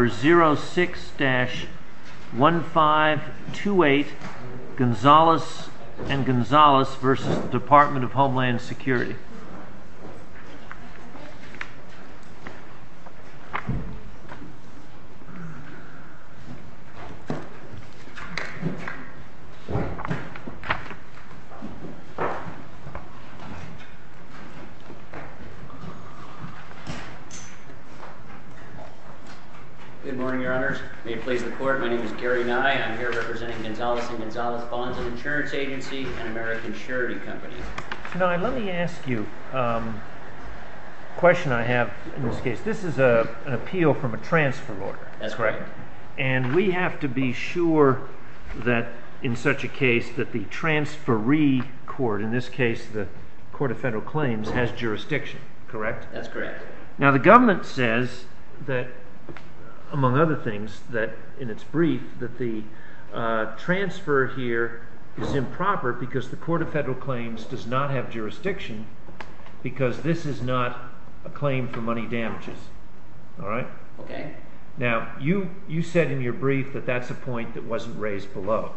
Number 06-1528 Gonzales & Gonzales v. Department of Homeland Security Good morning, your honors. May it please the court, my name is Gary Nye. I'm here representing Gonzales & Gonzales Bonds & Insurance Agency and American Charity Company. Now, let me ask you a question I have in this case. This is an appeal from a transfer order. That's correct. And we have to be sure that in such a case that the transferee court, in this case the Court of Federal Claims, has jurisdiction, correct? That's correct. Now, the government says that, among other things, that in its brief that the transfer here is improper because the Court of Federal Claims does not have jurisdiction because this is not a claim for money damages, alright? Okay. Now, you said in your brief that that's a point that wasn't raised below,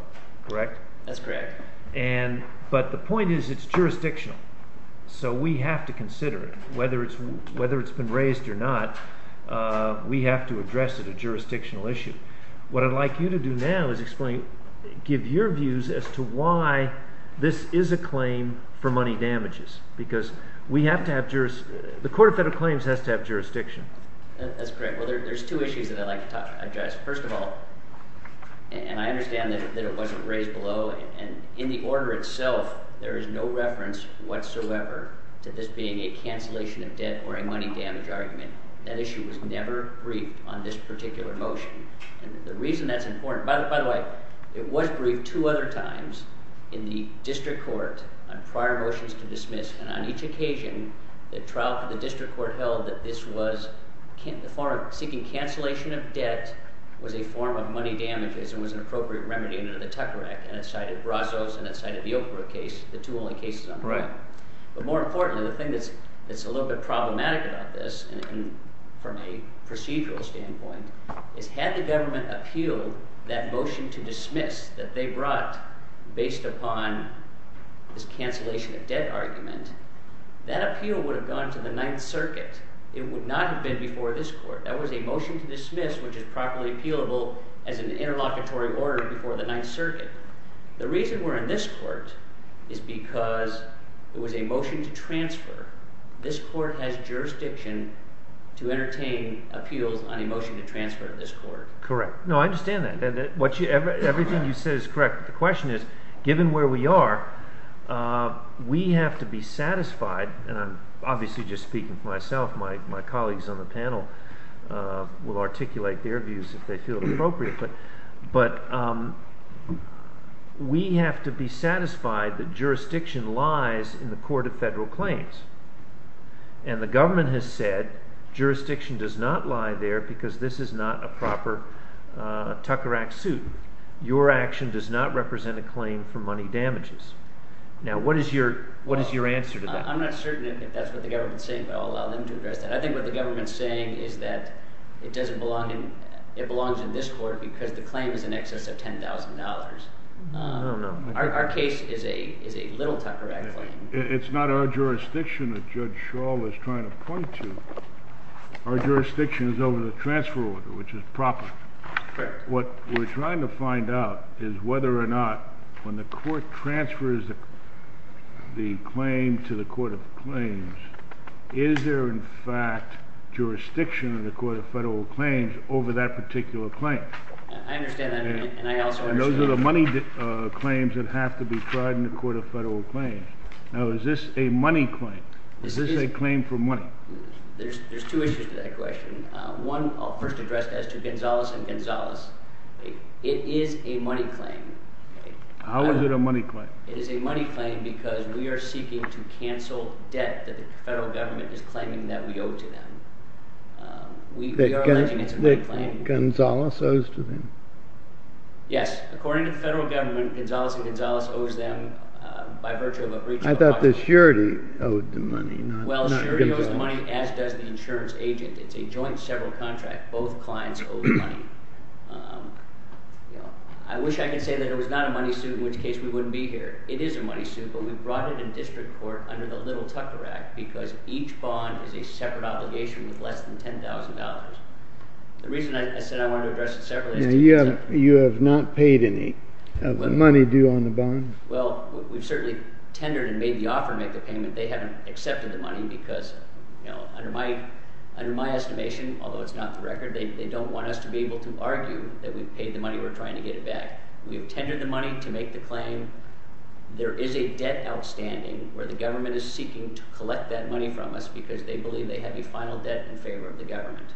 correct? That's correct. And, but the point is it's jurisdictional, so we have to consider it. Whether it's been raised or not, we have to address it as a jurisdictional issue. What I'd like you to do now is explain, give your views as to why this is a claim for money damages because we have to have, the Court of Federal Claims has to have jurisdiction. That's correct. Well, there's two issues that I'd like to address. First of all, and I understand that it wasn't raised below, and in the order itself there is no reference whatsoever to this being a cancellation of debt or a money damage argument. That issue was never briefed on this particular motion. And the reason that's important, by the way, it was briefed two other times in the district court on prior motions to dismiss, and on each occasion the trial for the district court held that this was, seeking cancellation of debt was a form of money damages and was an appropriate remedy under the Tucker Act, and it cited Brazos and it cited the Oprah case, the two only cases on trial. But more importantly, the thing that's a little bit problematic about this, from a procedural standpoint, is had the government appealed that motion to dismiss that they brought based upon this cancellation of debt argument, that appeal would have gone to the Ninth Circuit. It would not have been before this court. That was a motion to dismiss which is properly appealable as an interlocutory order before the Ninth Circuit. The reason we're in this court is because it was a motion to transfer. This court has jurisdiction to entertain appeals on a motion to transfer to this court. Correct. No, I understand that. Everything you said is correct. The question is, given where we are, we have to be satisfied, and I'm obviously just speaking for myself, my colleagues on the panel will articulate their views if they feel appropriate, but we have to be satisfied that jurisdiction lies in the court of federal claims. And the government has said jurisdiction does not lie there because this is not a proper Tucker Act suit. Your action does not represent a claim for money damages. Now, what is your answer to that? I'm not certain if that's what the government's saying, but I'll allow them to address that. I think what the government's saying is that it doesn't belong in – it belongs in this court because the claim is in excess of $10,000. I don't know. Our case is a little Tucker Act claim. It's not our jurisdiction that Judge Schall is trying to point to. Our jurisdiction is over the transfer order, which is proper. Fair. What we're trying to find out is whether or not when the court transfers the claim to the court of claims, is there in fact jurisdiction in the court of federal claims over that particular claim? I understand that, and I also understand – Those are the money claims that have to be tried in the court of federal claims. Now, is this a money claim? Is this a claim for money? There's two issues to that question. One, I'll first address as to Gonzales and Gonzales. It is a money claim. How is it a money claim? It is a money claim because we are seeking to cancel debt that the federal government is claiming that we owe to them. We are alleging it's a money claim. That Gonzales owes to them? Yes. According to the federal government, Gonzales and Gonzales owes them by virtue of a breach of… I thought the surety owed the money. Well, surety owes the money, as does the insurance agent. It's a joint several contract. Both clients owe money. I wish I could say that it was not a money suit, in which case we wouldn't be here. It is a money suit, but we brought it in district court under the little Tucker Act because each bond is a separate obligation with less than $10,000. The reason I said I wanted to address it separately… Now, you have not paid any of the money due on the bond? Well, we've certainly tendered and made the offer to make the payment. They haven't accepted the money because, you know, under my estimation, although it's not the record, they don't want us to be able to argue that we've paid the money, we're trying to get it back. We've tendered the money to make the claim. There is a debt outstanding where the government is seeking to collect that money from us because they believe they have a final debt in favor of the government.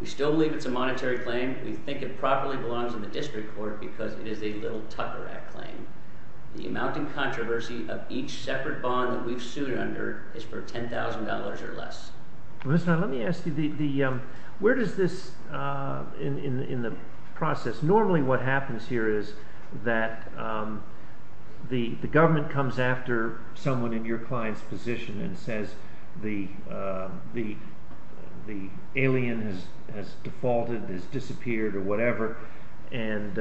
We still believe it's a monetary claim. We think it properly belongs in the district court because it is a little Tucker Act claim. The amount in controversy of each separate bond that we've sued under is for $10,000 or less. Let me ask you, where does this, in the process, normally what happens here is that the government comes after someone in your client's position and says the alien has defaulted, has disappeared, or whatever, and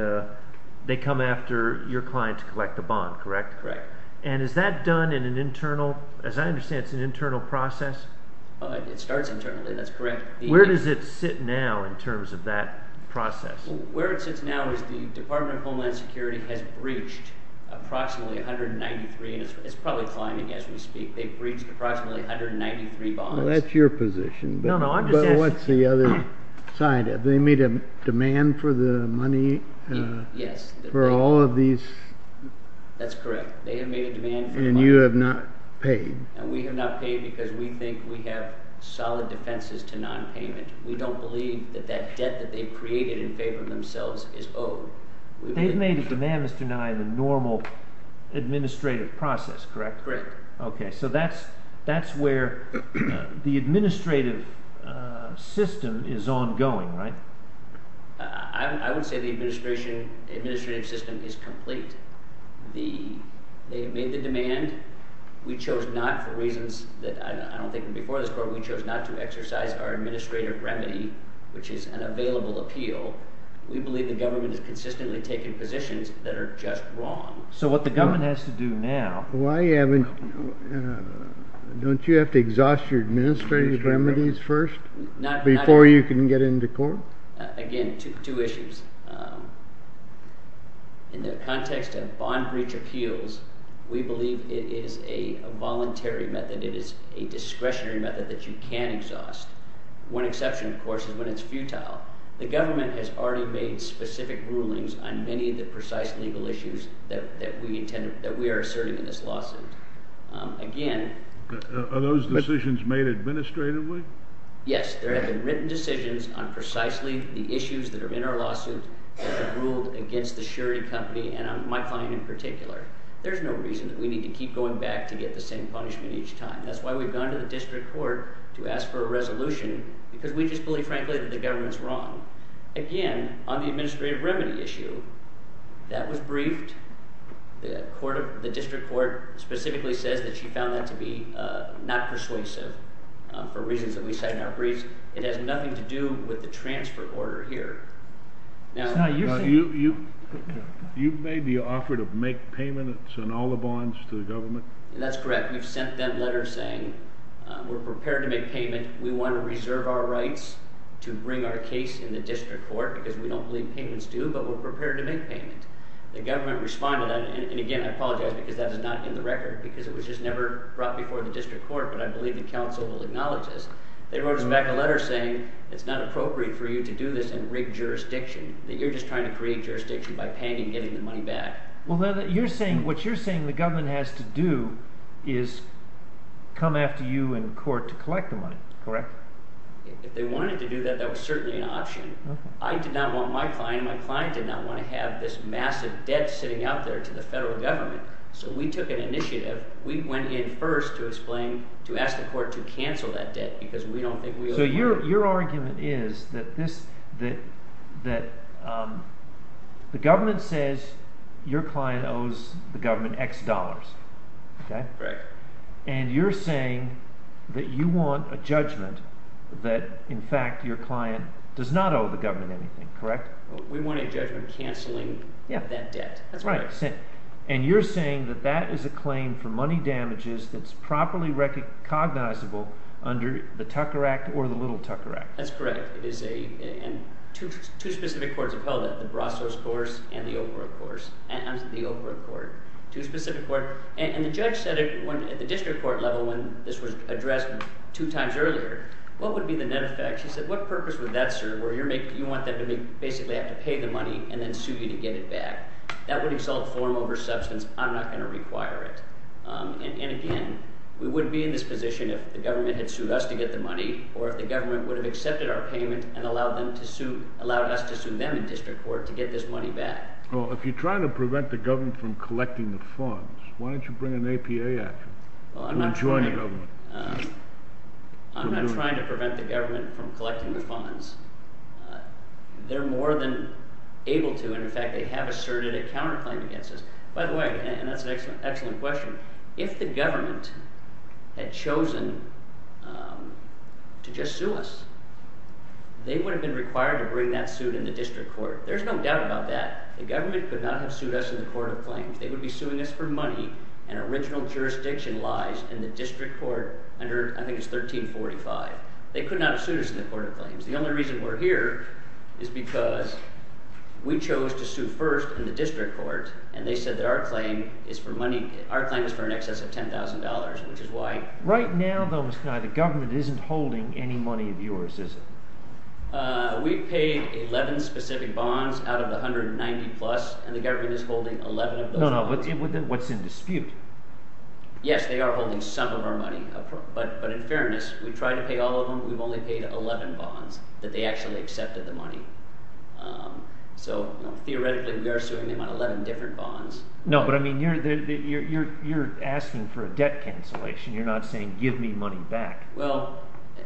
they come after your client to collect the bond, correct? Correct. And is that done in an internal, as I understand, it's an internal process? It starts internally, that's correct. Where does it sit now in terms of that process? Where it sits now is the Department of Homeland Security has breached approximately 193, and it's probably climbing as we speak, they've breached approximately 193 bonds. Well, that's your position. No, no, I'm just asking. But what's the other side of it? They made a demand for the money? Yes. For all of these? That's correct. They have made a demand for the money. And you have not paid? And we have not paid because we think we have solid defenses to non-payment. We don't believe that that debt that they've created in favor of themselves is owed. They've made a demand, Mr. Nye, in the normal administrative process, correct? Correct. Okay, so that's where the administrative system is ongoing, right? I would say the administrative system is complete. They've made the demand. We chose not, for reasons that I don't think were before this court, we chose not to exercise our administrative remedy, which is an available appeal. We believe the government has consistently taken positions that are just wrong. So what the government has to do now… Don't you have to exhaust your administrative remedies first before you can get into court? Again, two issues. In the context of bond breach appeals, we believe it is a voluntary method. It is a discretionary method that you can exhaust. One exception, of course, is when it's futile. The government has already made specific rulings on many of the precise legal issues that we are asserting in this lawsuit. Again… Are those decisions made administratively? Yes. There have been written decisions on precisely the issues that are in our lawsuit that have ruled against the Sherry Company and my client in particular. There's no reason that we need to keep going back to get the same punishment each time. That's why we've gone to the district court to ask for a resolution, because we just believe, frankly, that the government's wrong. Again, on the administrative remedy issue, that was briefed. The district court specifically says that she found that to be not persuasive for reasons that we cite in our briefs. It has nothing to do with the transfer order here. You've made the offer to make payments on all the bonds to the government? That's correct. We've sent them letters saying, we're prepared to make payment. We want to reserve our rights to bring our case in the district court, because we don't believe payments do, but we're prepared to make payment. The government responded, and again, I apologize because that is not in the record, because it was just never brought before the district court, but I believe the council will acknowledge this. They wrote us back a letter saying it's not appropriate for you to do this in rigged jurisdiction, that you're just trying to create jurisdiction by paying and getting the money back. Well, what you're saying the government has to do is come after you in court to collect the money, correct? If they wanted to do that, that was certainly an option. I did not want my client – my client did not want to have this massive debt sitting out there to the federal government, so we took an initiative. We went in first to explain – to ask the court to cancel that debt, because we don't think we owe money. So your argument is that this – that the government says your client owes the government X dollars, okay? Correct. And you're saying that you want a judgment that, in fact, your client does not owe the government anything, correct? We want a judgment canceling that debt. That's correct. And you're saying that that is a claim for money damages that's properly cognizable under the Tucker Act or the Little Tucker Act. That's correct. It is a – and two specific courts have held it, the Brasos court and the Okra court. And the judge said it when – at the district court level when this was addressed two times earlier, what would be the net effect? She said what purpose would that serve where you're making – you want them to basically have to pay the money and then sue you to get it back. That would exalt form over substance. I'm not going to require it. And again, we wouldn't be in this position if the government had sued us to get the money or if the government would have accepted our payment and allowed them to sue – allowed us to sue them in district court to get this money back. Well, if you're trying to prevent the government from collecting the funds, why don't you bring an APA after them to join the government? I'm not trying to prevent the government from collecting the funds. They're more than able to, and in fact they have asserted a counterclaim against us. By the way, and that's an excellent question, if the government had chosen to just sue us, they would have been required to bring that suit in the district court. There's no doubt about that. The government could not have sued us in the court of claims. They would be suing us for money, and original jurisdiction lies in the district court under – I think it's 1345. They could not have sued us in the court of claims. The only reason we're here is because we chose to sue first in the district court, and they said that our claim is for money. Our claim is for in excess of $10,000, which is why… Right now, though, Mr. Connolly, the government isn't holding any money of yours, is it? We've paid 11 specific bonds out of the 190-plus, and the government is holding 11 of those bonds. No, no, but what's in dispute? Yes, they are holding some of our money, but in fairness, we tried to pay all of them. We've only paid 11 bonds that they actually accepted the money. So theoretically, we are suing them on 11 different bonds. No, but I mean you're asking for a debt cancellation. You're not saying give me money back. Well,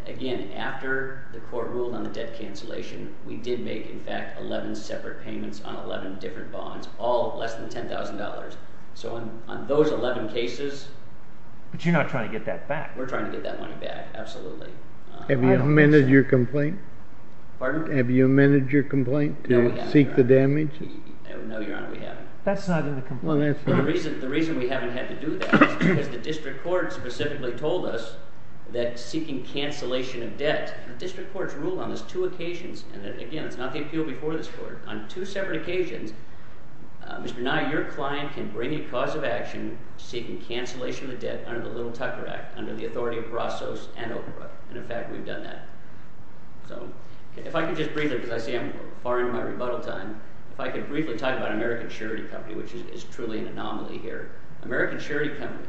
again, after the court ruled on the debt cancellation, we did make, in fact, 11 separate payments on 11 different bonds, all less than $10,000. So on those 11 cases… But you're not trying to get that back. We're trying to get that money back, absolutely. Have you amended your complaint? Pardon? Have you amended your complaint to seek the damage? No, Your Honor, we haven't. That's not in the complaint. Well, that's fine. The reason we haven't had to do that is because the district court specifically told us that seeking cancellation of debt… And again, it's not the appeal before this court. On two separate occasions, Mr. Nye, your client can bring a cause of action seeking cancellation of the debt under the Little Tucker Act, under the authority of Rossos and Oakbrook. And in fact, we've done that. So if I could just briefly, because I see I'm far into my rebuttal time, if I could briefly talk about American Charity Company, which is truly an anomaly here. American Charity Company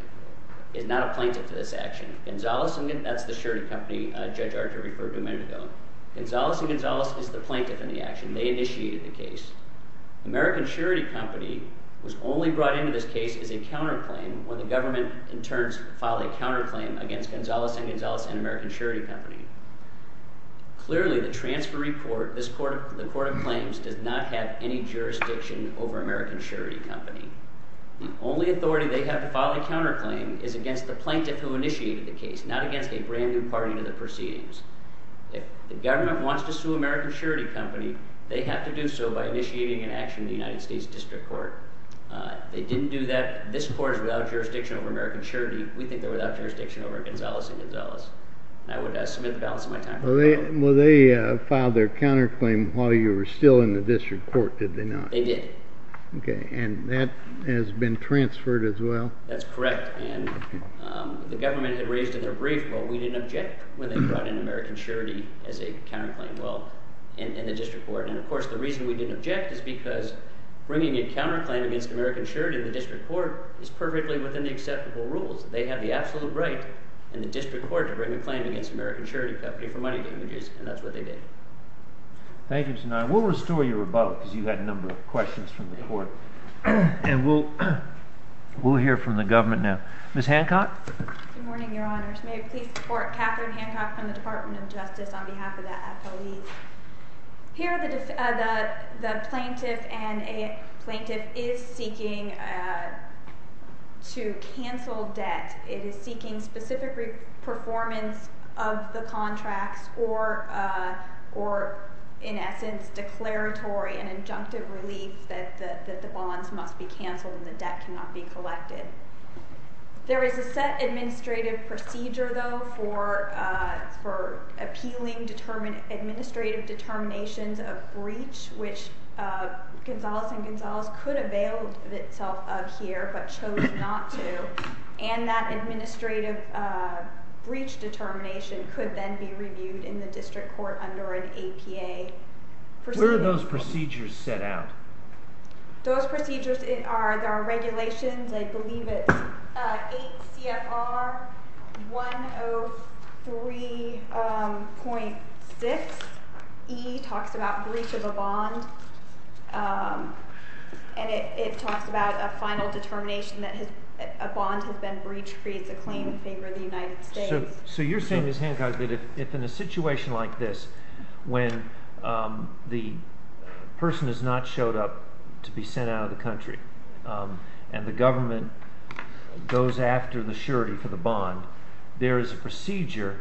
is not a plaintiff to this action. That's the charity company Judge Archer referred to a minute ago. Gonzales and Gonzales is the plaintiff in the action. They initiated the case. American Charity Company was only brought into this case as a counterclaim when the government, in turn, filed a counterclaim against Gonzales and Gonzales and American Charity Company. Clearly, the transfer report, the court of claims, does not have any jurisdiction over American Charity Company. The only authority they have to file a counterclaim is against the plaintiff who initiated the case, not against a brand new party to the proceedings. If the government wants to sue American Charity Company, they have to do so by initiating an action in the United States District Court. They didn't do that. This court is without jurisdiction over American Charity. We think they're without jurisdiction over Gonzales and Gonzales. And I would submit the balance of my time to the court. Well, they filed their counterclaim while you were still in the district court, did they not? They did. OK. And that has been transferred as well? That's correct. And the government had raised in their brief what we didn't object when they brought in American Charity as a counterclaim while in the district court. And, of course, the reason we didn't object is because bringing a counterclaim against American Charity in the district court is perfectly within the acceptable rules. They have the absolute right in the district court to bring a claim against American Charity Company for money damages. And that's what they did. Thank you, Mr. Nye. We'll restore your rebuttal because you had a number of questions from the court. And we'll hear from the government now. Ms. Hancock? Good morning, Your Honors. May it please the Court, Catherine Hancock from the Department of Justice on behalf of the FLE. Here the plaintiff is seeking to cancel debt. It is seeking specific performance of the contracts or, in essence, declaratory and injunctive relief that the bonds must be canceled and the debt cannot be collected. There is a set administrative procedure, though, for appealing administrative determinations of breach, which Gonzales and Gonzales could avail itself of here but chose not to. And that administrative breach determination could then be reviewed in the district court under an APA. Where are those procedures set out? Those procedures are regulations. I believe it's 8 CFR 103.6E talks about breach of a bond. And it talks about a final determination that a bond has been breached creates a claim in favor of the United States. So you're saying, Ms. Hancock, that if in a situation like this when the person has not showed up to be sent out of the country and the government goes after the surety for the bond, there is a procedure.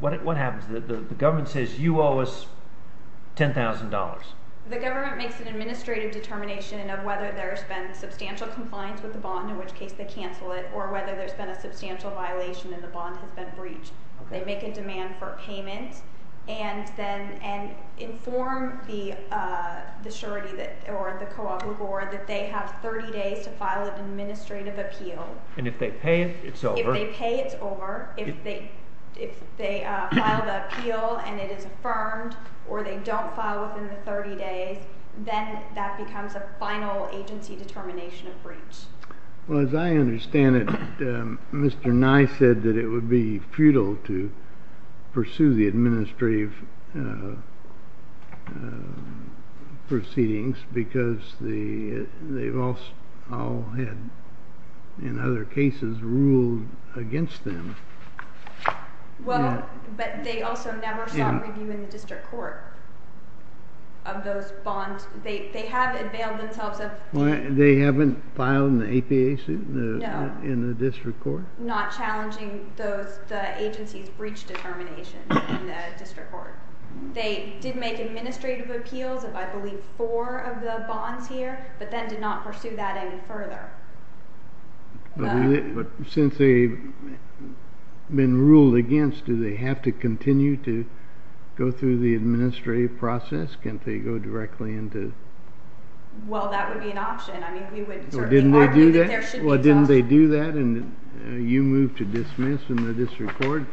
What happens? The government says you owe us $10,000. The government makes an administrative determination of whether there's been substantial compliance with the bond, in which case they cancel it, or whether there's been a substantial violation and the bond has been breached. They make a demand for payment and then inform the surety or the cooperative board that they have 30 days to file an administrative appeal. And if they pay, it's over. If they file the appeal and it is affirmed or they don't file within the 30 days, then that becomes a final agency determination of breach. Well, as I understand it, Mr. Nye said that it would be futile to pursue the administrative proceedings because they've all had, in other cases, ruled against them. Well, but they also never sought review in the district court of those bonds. They have unveiled themselves. They haven't filed an APA suit in the district court? No, not challenging the agency's breach determination in the district court. They did make administrative appeals of, I believe, four of the bonds here, but then did not pursue that any further. But since they've been ruled against, do they have to continue to go through the administrative process? Can't they go directly into... Well, that would be an option. Didn't they do that and you moved to dismiss in the district court?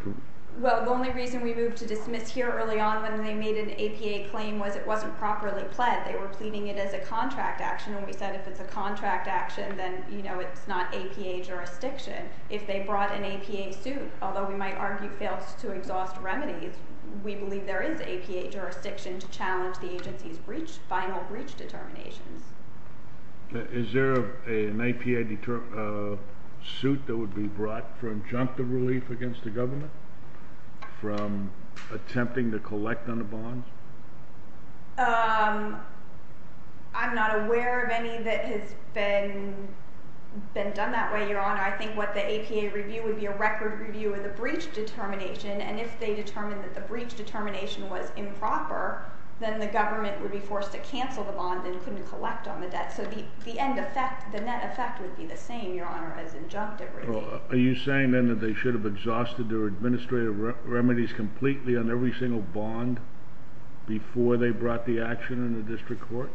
Well, the only reason we moved to dismiss here early on when they made an APA claim was it wasn't properly pled. They were pleading it as a contract action, and we said if it's a contract action, then it's not APA jurisdiction. If they brought an APA suit, although we might argue it fails to exhaust remedies, we believe there is APA jurisdiction to challenge the agency's final breach determinations. Is there an APA suit that would be brought for injunctive relief against the government from attempting to collect on the bonds? I'm not aware of any that has been done that way, Your Honor. I think what the APA review would be a record review of the breach determination, and if they determined that the breach determination was improper, then the government would be forced to cancel the bond and couldn't collect on the debt. So the net effect would be the same, Your Honor, as injunctive relief. Are you saying, then, that they should have exhausted their administrative remedies completely on every single bond before they brought the action in the district court?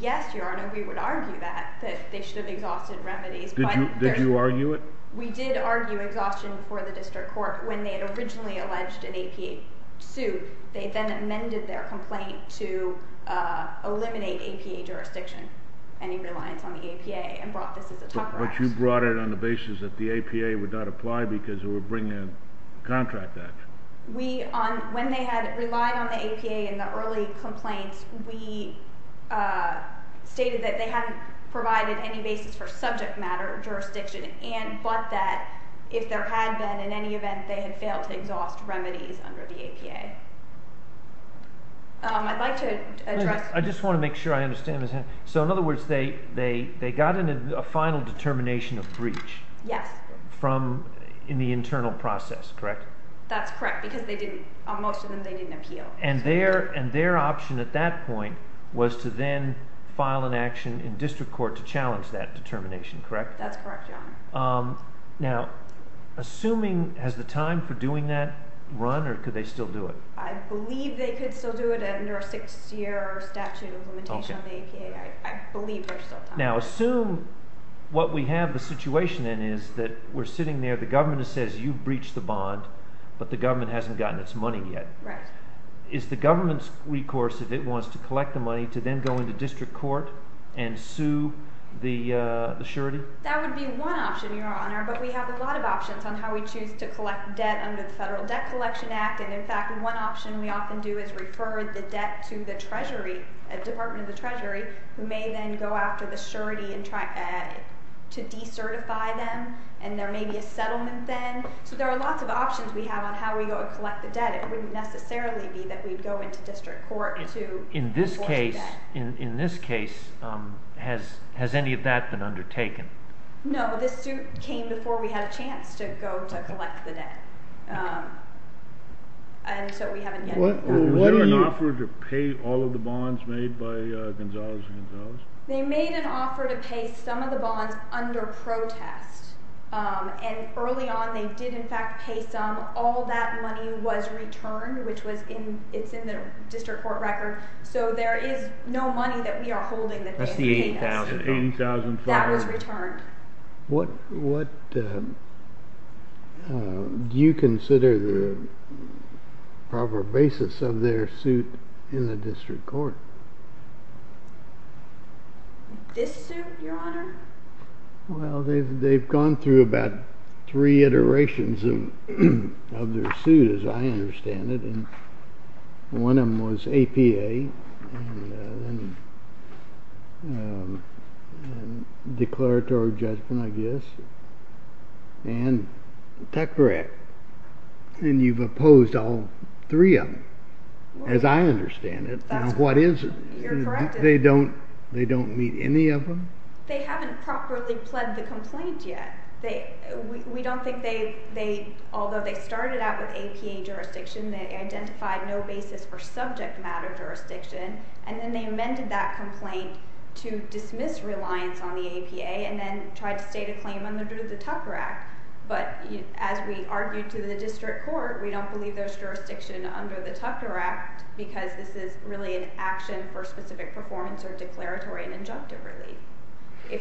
Yes, Your Honor, we would argue that, that they should have exhausted remedies. Did you argue it? We did argue exhaustion for the district court when they had originally alleged an APA suit. They then amended their complaint to eliminate APA jurisdiction, any reliance on the APA, and brought this as a tougher action. But you brought it on the basis that the APA would not apply because it would bring a contract action. When they had relied on the APA in the early complaints, we stated that they hadn't provided any basis for subject matter jurisdiction, but that if there had been, in any event, they had failed to exhaust remedies under the APA. I'd like to address... I just want to make sure I understand this. So, in other words, they got a final determination of breach? Yes. From, in the internal process, correct? That's correct, because they didn't, on most of them, they didn't appeal. And their option at that point was to then file an action in district court to challenge that determination, correct? That's correct, Your Honor. Now, assuming, has the time for doing that run, or could they still do it? I believe they could still do it under a six-year statute of limitation on the APA. I believe there's still time. Now, assume what we have the situation in is that we're sitting there, the government says you've breached the bond, but the government hasn't gotten its money yet. Right. Is the government's recourse, if it wants to collect the money, to then go into district court and sue the surety? That would be one option, Your Honor, but we have a lot of options on how we choose to collect debt under the Federal Debt Collection Act. And, in fact, one option we often do is refer the debt to the Treasury, Department of the Treasury, who may then go after the surety and try to decertify them. And there may be a settlement then. So there are lots of options we have on how we go to collect the debt. It wouldn't necessarily be that we'd go into district court to enforce the debt. In this case, has any of that been undertaken? No, this suit came before we had a chance to go to collect the debt, and so we haven't yet. Was there an offer to pay all of the bonds made by Gonzalez and Gonzalez? They made an offer to pay some of the bonds under protest, and early on they did, in fact, pay some. All that money was returned, which was in the district court record, so there is no money that we are holding that they have paid us. That's the $80,000. That was returned. What do you consider the proper basis of their suit in the district court? This suit, Your Honor? Well, they've gone through about three iterations of their suit, as I understand it. One of them was APA, and declaratory judgment, I guess, and the TECRA Act. And you've opposed all three of them, as I understand it. You're correct. They don't meet any of them? They haven't properly pled the complaint yet. Although they started out with APA jurisdiction, they identified no basis for subject matter jurisdiction, and then they amended that complaint to dismiss reliance on the APA and then tried to state a claim under the TECRA Act. But as we argued to the district court, we don't believe there's jurisdiction under the TECRA Act because this is really an action for specific performance or declaratory and injunctive relief.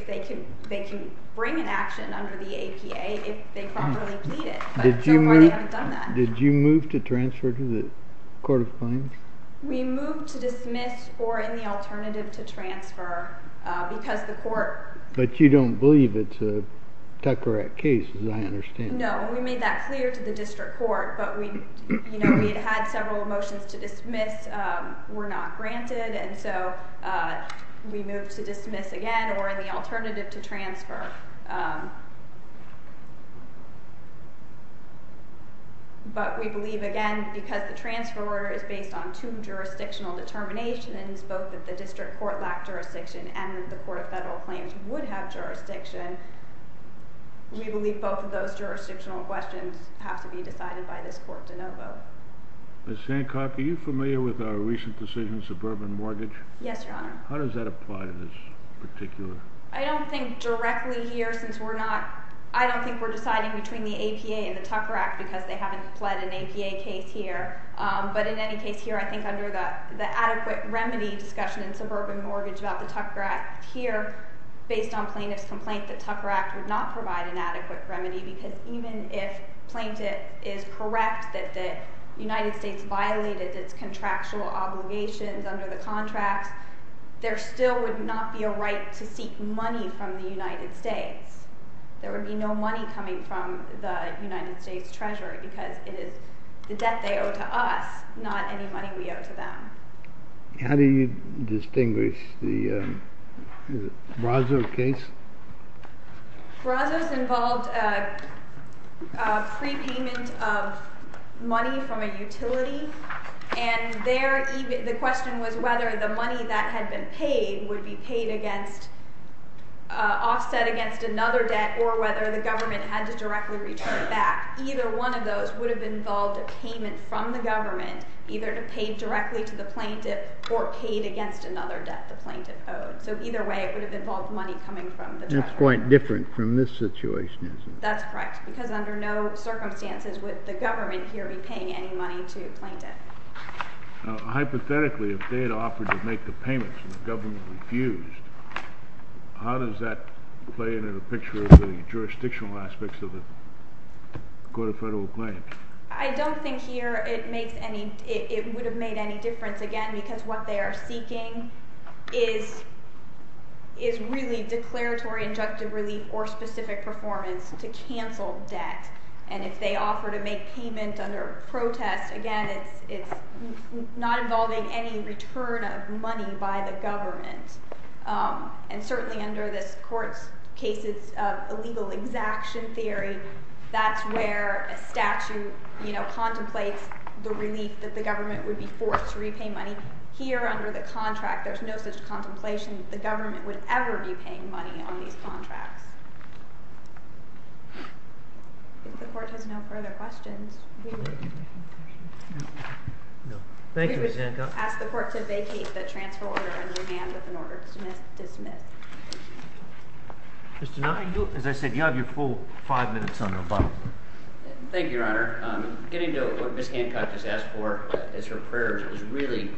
They can bring an action under the APA if they properly plead it, but so far they haven't done that. Did you move to transfer to the court of claims? We moved to dismiss or, in the alternative, to transfer because the court— But you don't believe it's a TECRA Act case, as I understand it. No, we made that clear to the district court, but we had had several motions to dismiss were not granted, and so we moved to dismiss again or, in the alternative, to transfer. But we believe, again, because the transfer order is based on two jurisdictional determinations, both that the district court lacked jurisdiction and that the court of federal claims would have jurisdiction, we believe both of those jurisdictional questions have to be decided by this court to no vote. Ms. Sankoff, are you familiar with our recent decision, suburban mortgage? Yes, Your Honor. How does that apply to this particular— I don't think directly here since we're not—I don't think we're deciding between the APA and the TECRA Act because they haven't pled an APA case here. But in any case here, I think under the adequate remedy discussion in suburban mortgage about the TECRA Act here, based on plaintiff's complaint that TECRA Act would not provide an adequate remedy because even if plaintiff is correct that the United States violated its contractual obligations under the contract, there still would not be a right to seek money from the United States. There would be no money coming from the United States Treasury because it is the debt they owe to us, not any money we owe to them. How do you distinguish the Brazos case? Brazos involved prepayment of money from a utility, and the question was whether the money that had been paid would be paid against—offset against another debt or whether the government had to directly return it back. Either one of those would have involved a payment from the government, either to pay directly to the plaintiff or paid against another debt the plaintiff owed. So either way, it would have involved money coming from the government. That's quite different from this situation, isn't it? That's correct because under no circumstances would the government here be paying any money to a plaintiff. Hypothetically, if they had offered to make the payments and the government refused, how does that play into the picture of the jurisdictional aspects of the court of federal claims? I don't think here it would have made any difference, again, because what they are seeking is really declaratory injunctive relief or specific performance to cancel debt. And if they offer to make payment under protest, again, it's not involving any return of money by the government. And certainly under this court's cases of illegal exaction theory, that's where a statute contemplates the relief that the government would be forced to repay money. Here under the contract, there's no such contemplation that the government would ever be paying money on these contracts. If the court has no further questions, we would— Thank you, Ms. Hancock. I ask the court to vacate the transfer order and remand with an order to dismiss. Mr. Knott, as I said, you have your full five minutes on the phone. Thank you, Your Honor. Getting to what Ms. Hancock has asked for as her prayer is really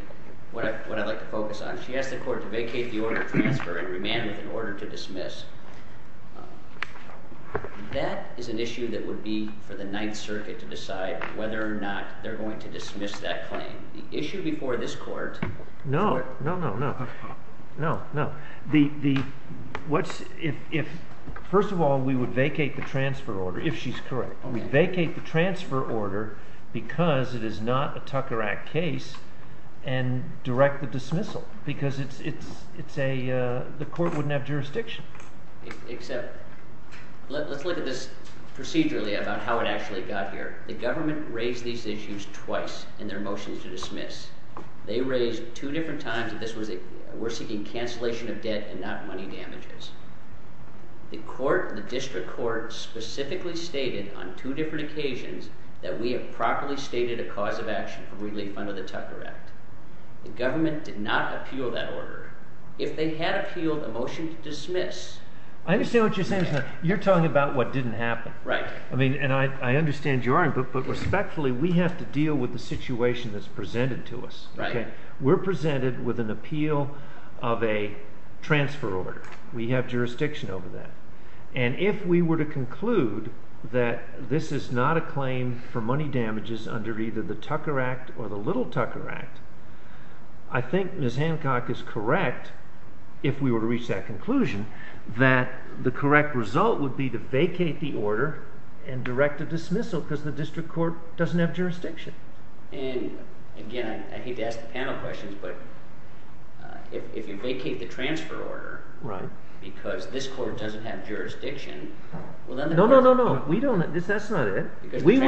what I'd like to focus on. She asked the court to vacate the order of transfer and remand with an order to dismiss. That is an issue that would be for the Ninth Circuit to decide whether or not they're going to dismiss that claim. The issue before this court— No, no, no, no. First of all, we would vacate the transfer order, if she's correct. We'd vacate the transfer order because it is not a Tucker Act case and direct the dismissal, because the court wouldn't have jurisdiction. Let's look at this procedurally about how it actually got here. The government raised these issues twice in their motions to dismiss. They raised two different times that we're seeking cancellation of debt and not money damages. The district court specifically stated on two different occasions that we have properly stated a cause of action of relief under the Tucker Act. The government did not appeal that order. If they had appealed a motion to dismiss— I understand what you're saying, Mr. Knott. You're talking about what didn't happen. Right. I mean, and I understand you are, but respectfully, we have to deal with the situation that's presented to us. Right. We're presented with an appeal of a transfer order. We have jurisdiction over that. And if we were to conclude that this is not a claim for money damages under either the Tucker Act or the Little Tucker Act, I think Ms. Hancock is correct, if we were to reach that conclusion, that the correct result would be to vacate the order and direct a dismissal, because the district court doesn't have jurisdiction. And, again, I hate to ask the panel questions, but if you vacate the transfer order because this court doesn't have jurisdiction, well, then— No, no, no, no. We don't—that's not it. We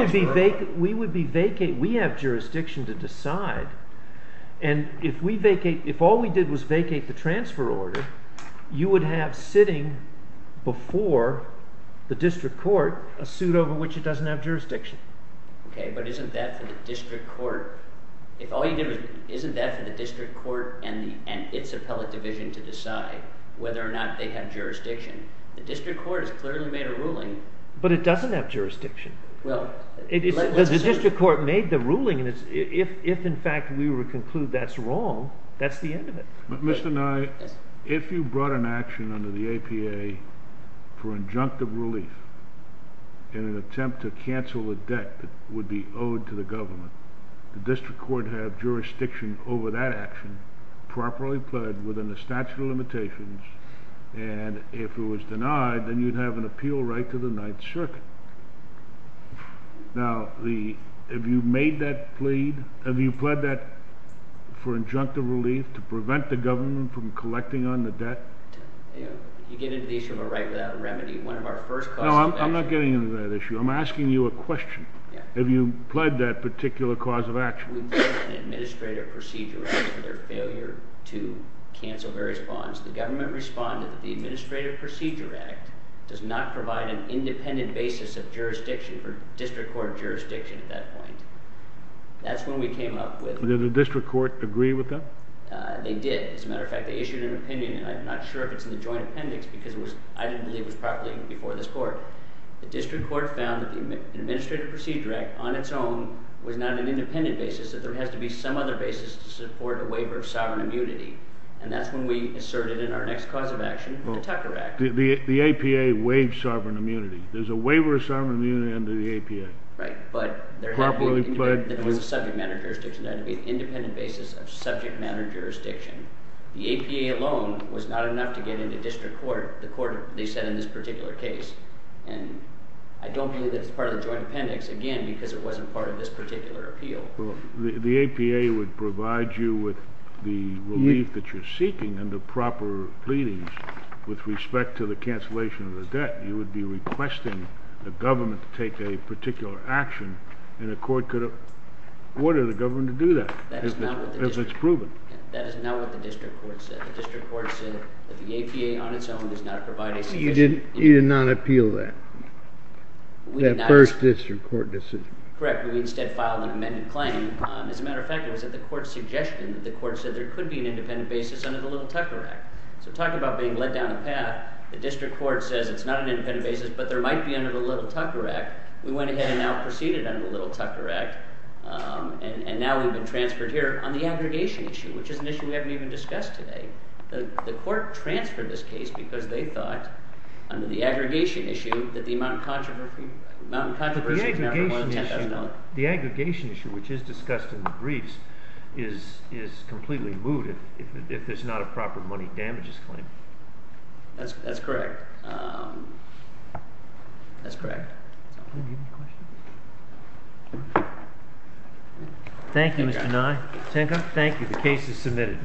would be vacating—we have jurisdiction to decide, and if we vacate—if all we did was vacate the transfer order, you would have sitting before the district court a suit over which it doesn't have jurisdiction. Okay, but isn't that for the district court—if all you did was—isn't that for the district court and its appellate division to decide whether or not they have jurisdiction? The district court has clearly made a ruling— But it doesn't have jurisdiction. Well— The district court made the ruling, and if, in fact, we were to conclude that's wrong, that's the end of it. Mr. Nye, if you brought an action under the APA for injunctive relief in an attempt to cancel a debt that would be owed to the government, the district court would have jurisdiction over that action, properly pled within the statute of limitations, and if it was denied, then you'd have an appeal right to the Ninth Circuit. Now, the—have you made that plea—have you pled that for injunctive relief to prevent the government from collecting on the debt? You know, you get into the issue of a right without a remedy, one of our first— No, I'm not getting into that issue. I'm asking you a question. Yeah. Have you pled that particular cause of action? After we pled an administrative procedure against their failure to cancel various bonds, the government responded that the Administrative Procedure Act does not provide an independent basis of jurisdiction for district court jurisdiction at that point. That's when we came up with— Did the district court agree with that? They did. As a matter of fact, they issued an opinion, and I'm not sure if it's in the joint appendix because it was—I didn't believe it was properly before this court. The district court found that the Administrative Procedure Act on its own was not an independent basis, that there has to be some other basis to support a waiver of sovereign immunity, and that's when we asserted in our next cause of action, the Tucker Act. The APA waived sovereign immunity. There's a waiver of sovereign immunity under the APA. Right, but there had to be— Properly pled— There was a subject matter jurisdiction. There had to be an independent basis of subject matter jurisdiction. The APA alone was not enough to get into district court, the court they said in this particular case. And I don't believe that it's part of the joint appendix, again, because it wasn't part of this particular appeal. Well, the APA would provide you with the relief that you're seeking under proper pleadings with respect to the cancellation of the debt. You would be requesting the government to take a particular action, and the court could have ordered the government to do that. That is not what the district— If it's proven. That is not what the district court said. The district court said that the APA on its own does not provide a sufficient— You did not appeal that. That first district court decision. Correct, but we instead filed an amended claim. As a matter of fact, it was at the court's suggestion that the court said there could be an independent basis under the Little Tucker Act. So talking about being led down a path, the district court says it's not an independent basis, but there might be under the Little Tucker Act. We went ahead and now proceeded under the Little Tucker Act, and now we've been transferred here on the aggregation issue, which is an issue we haven't even discussed today. The court transferred this case because they thought, under the aggregation issue, that the amount of controversy— But the aggregation issue, which is discussed in the briefs, is completely moot if there's not a proper money damages claim. That's correct. That's correct. Do you have any questions? Thank you, Mr. Nye. Thank you. The case is submitted.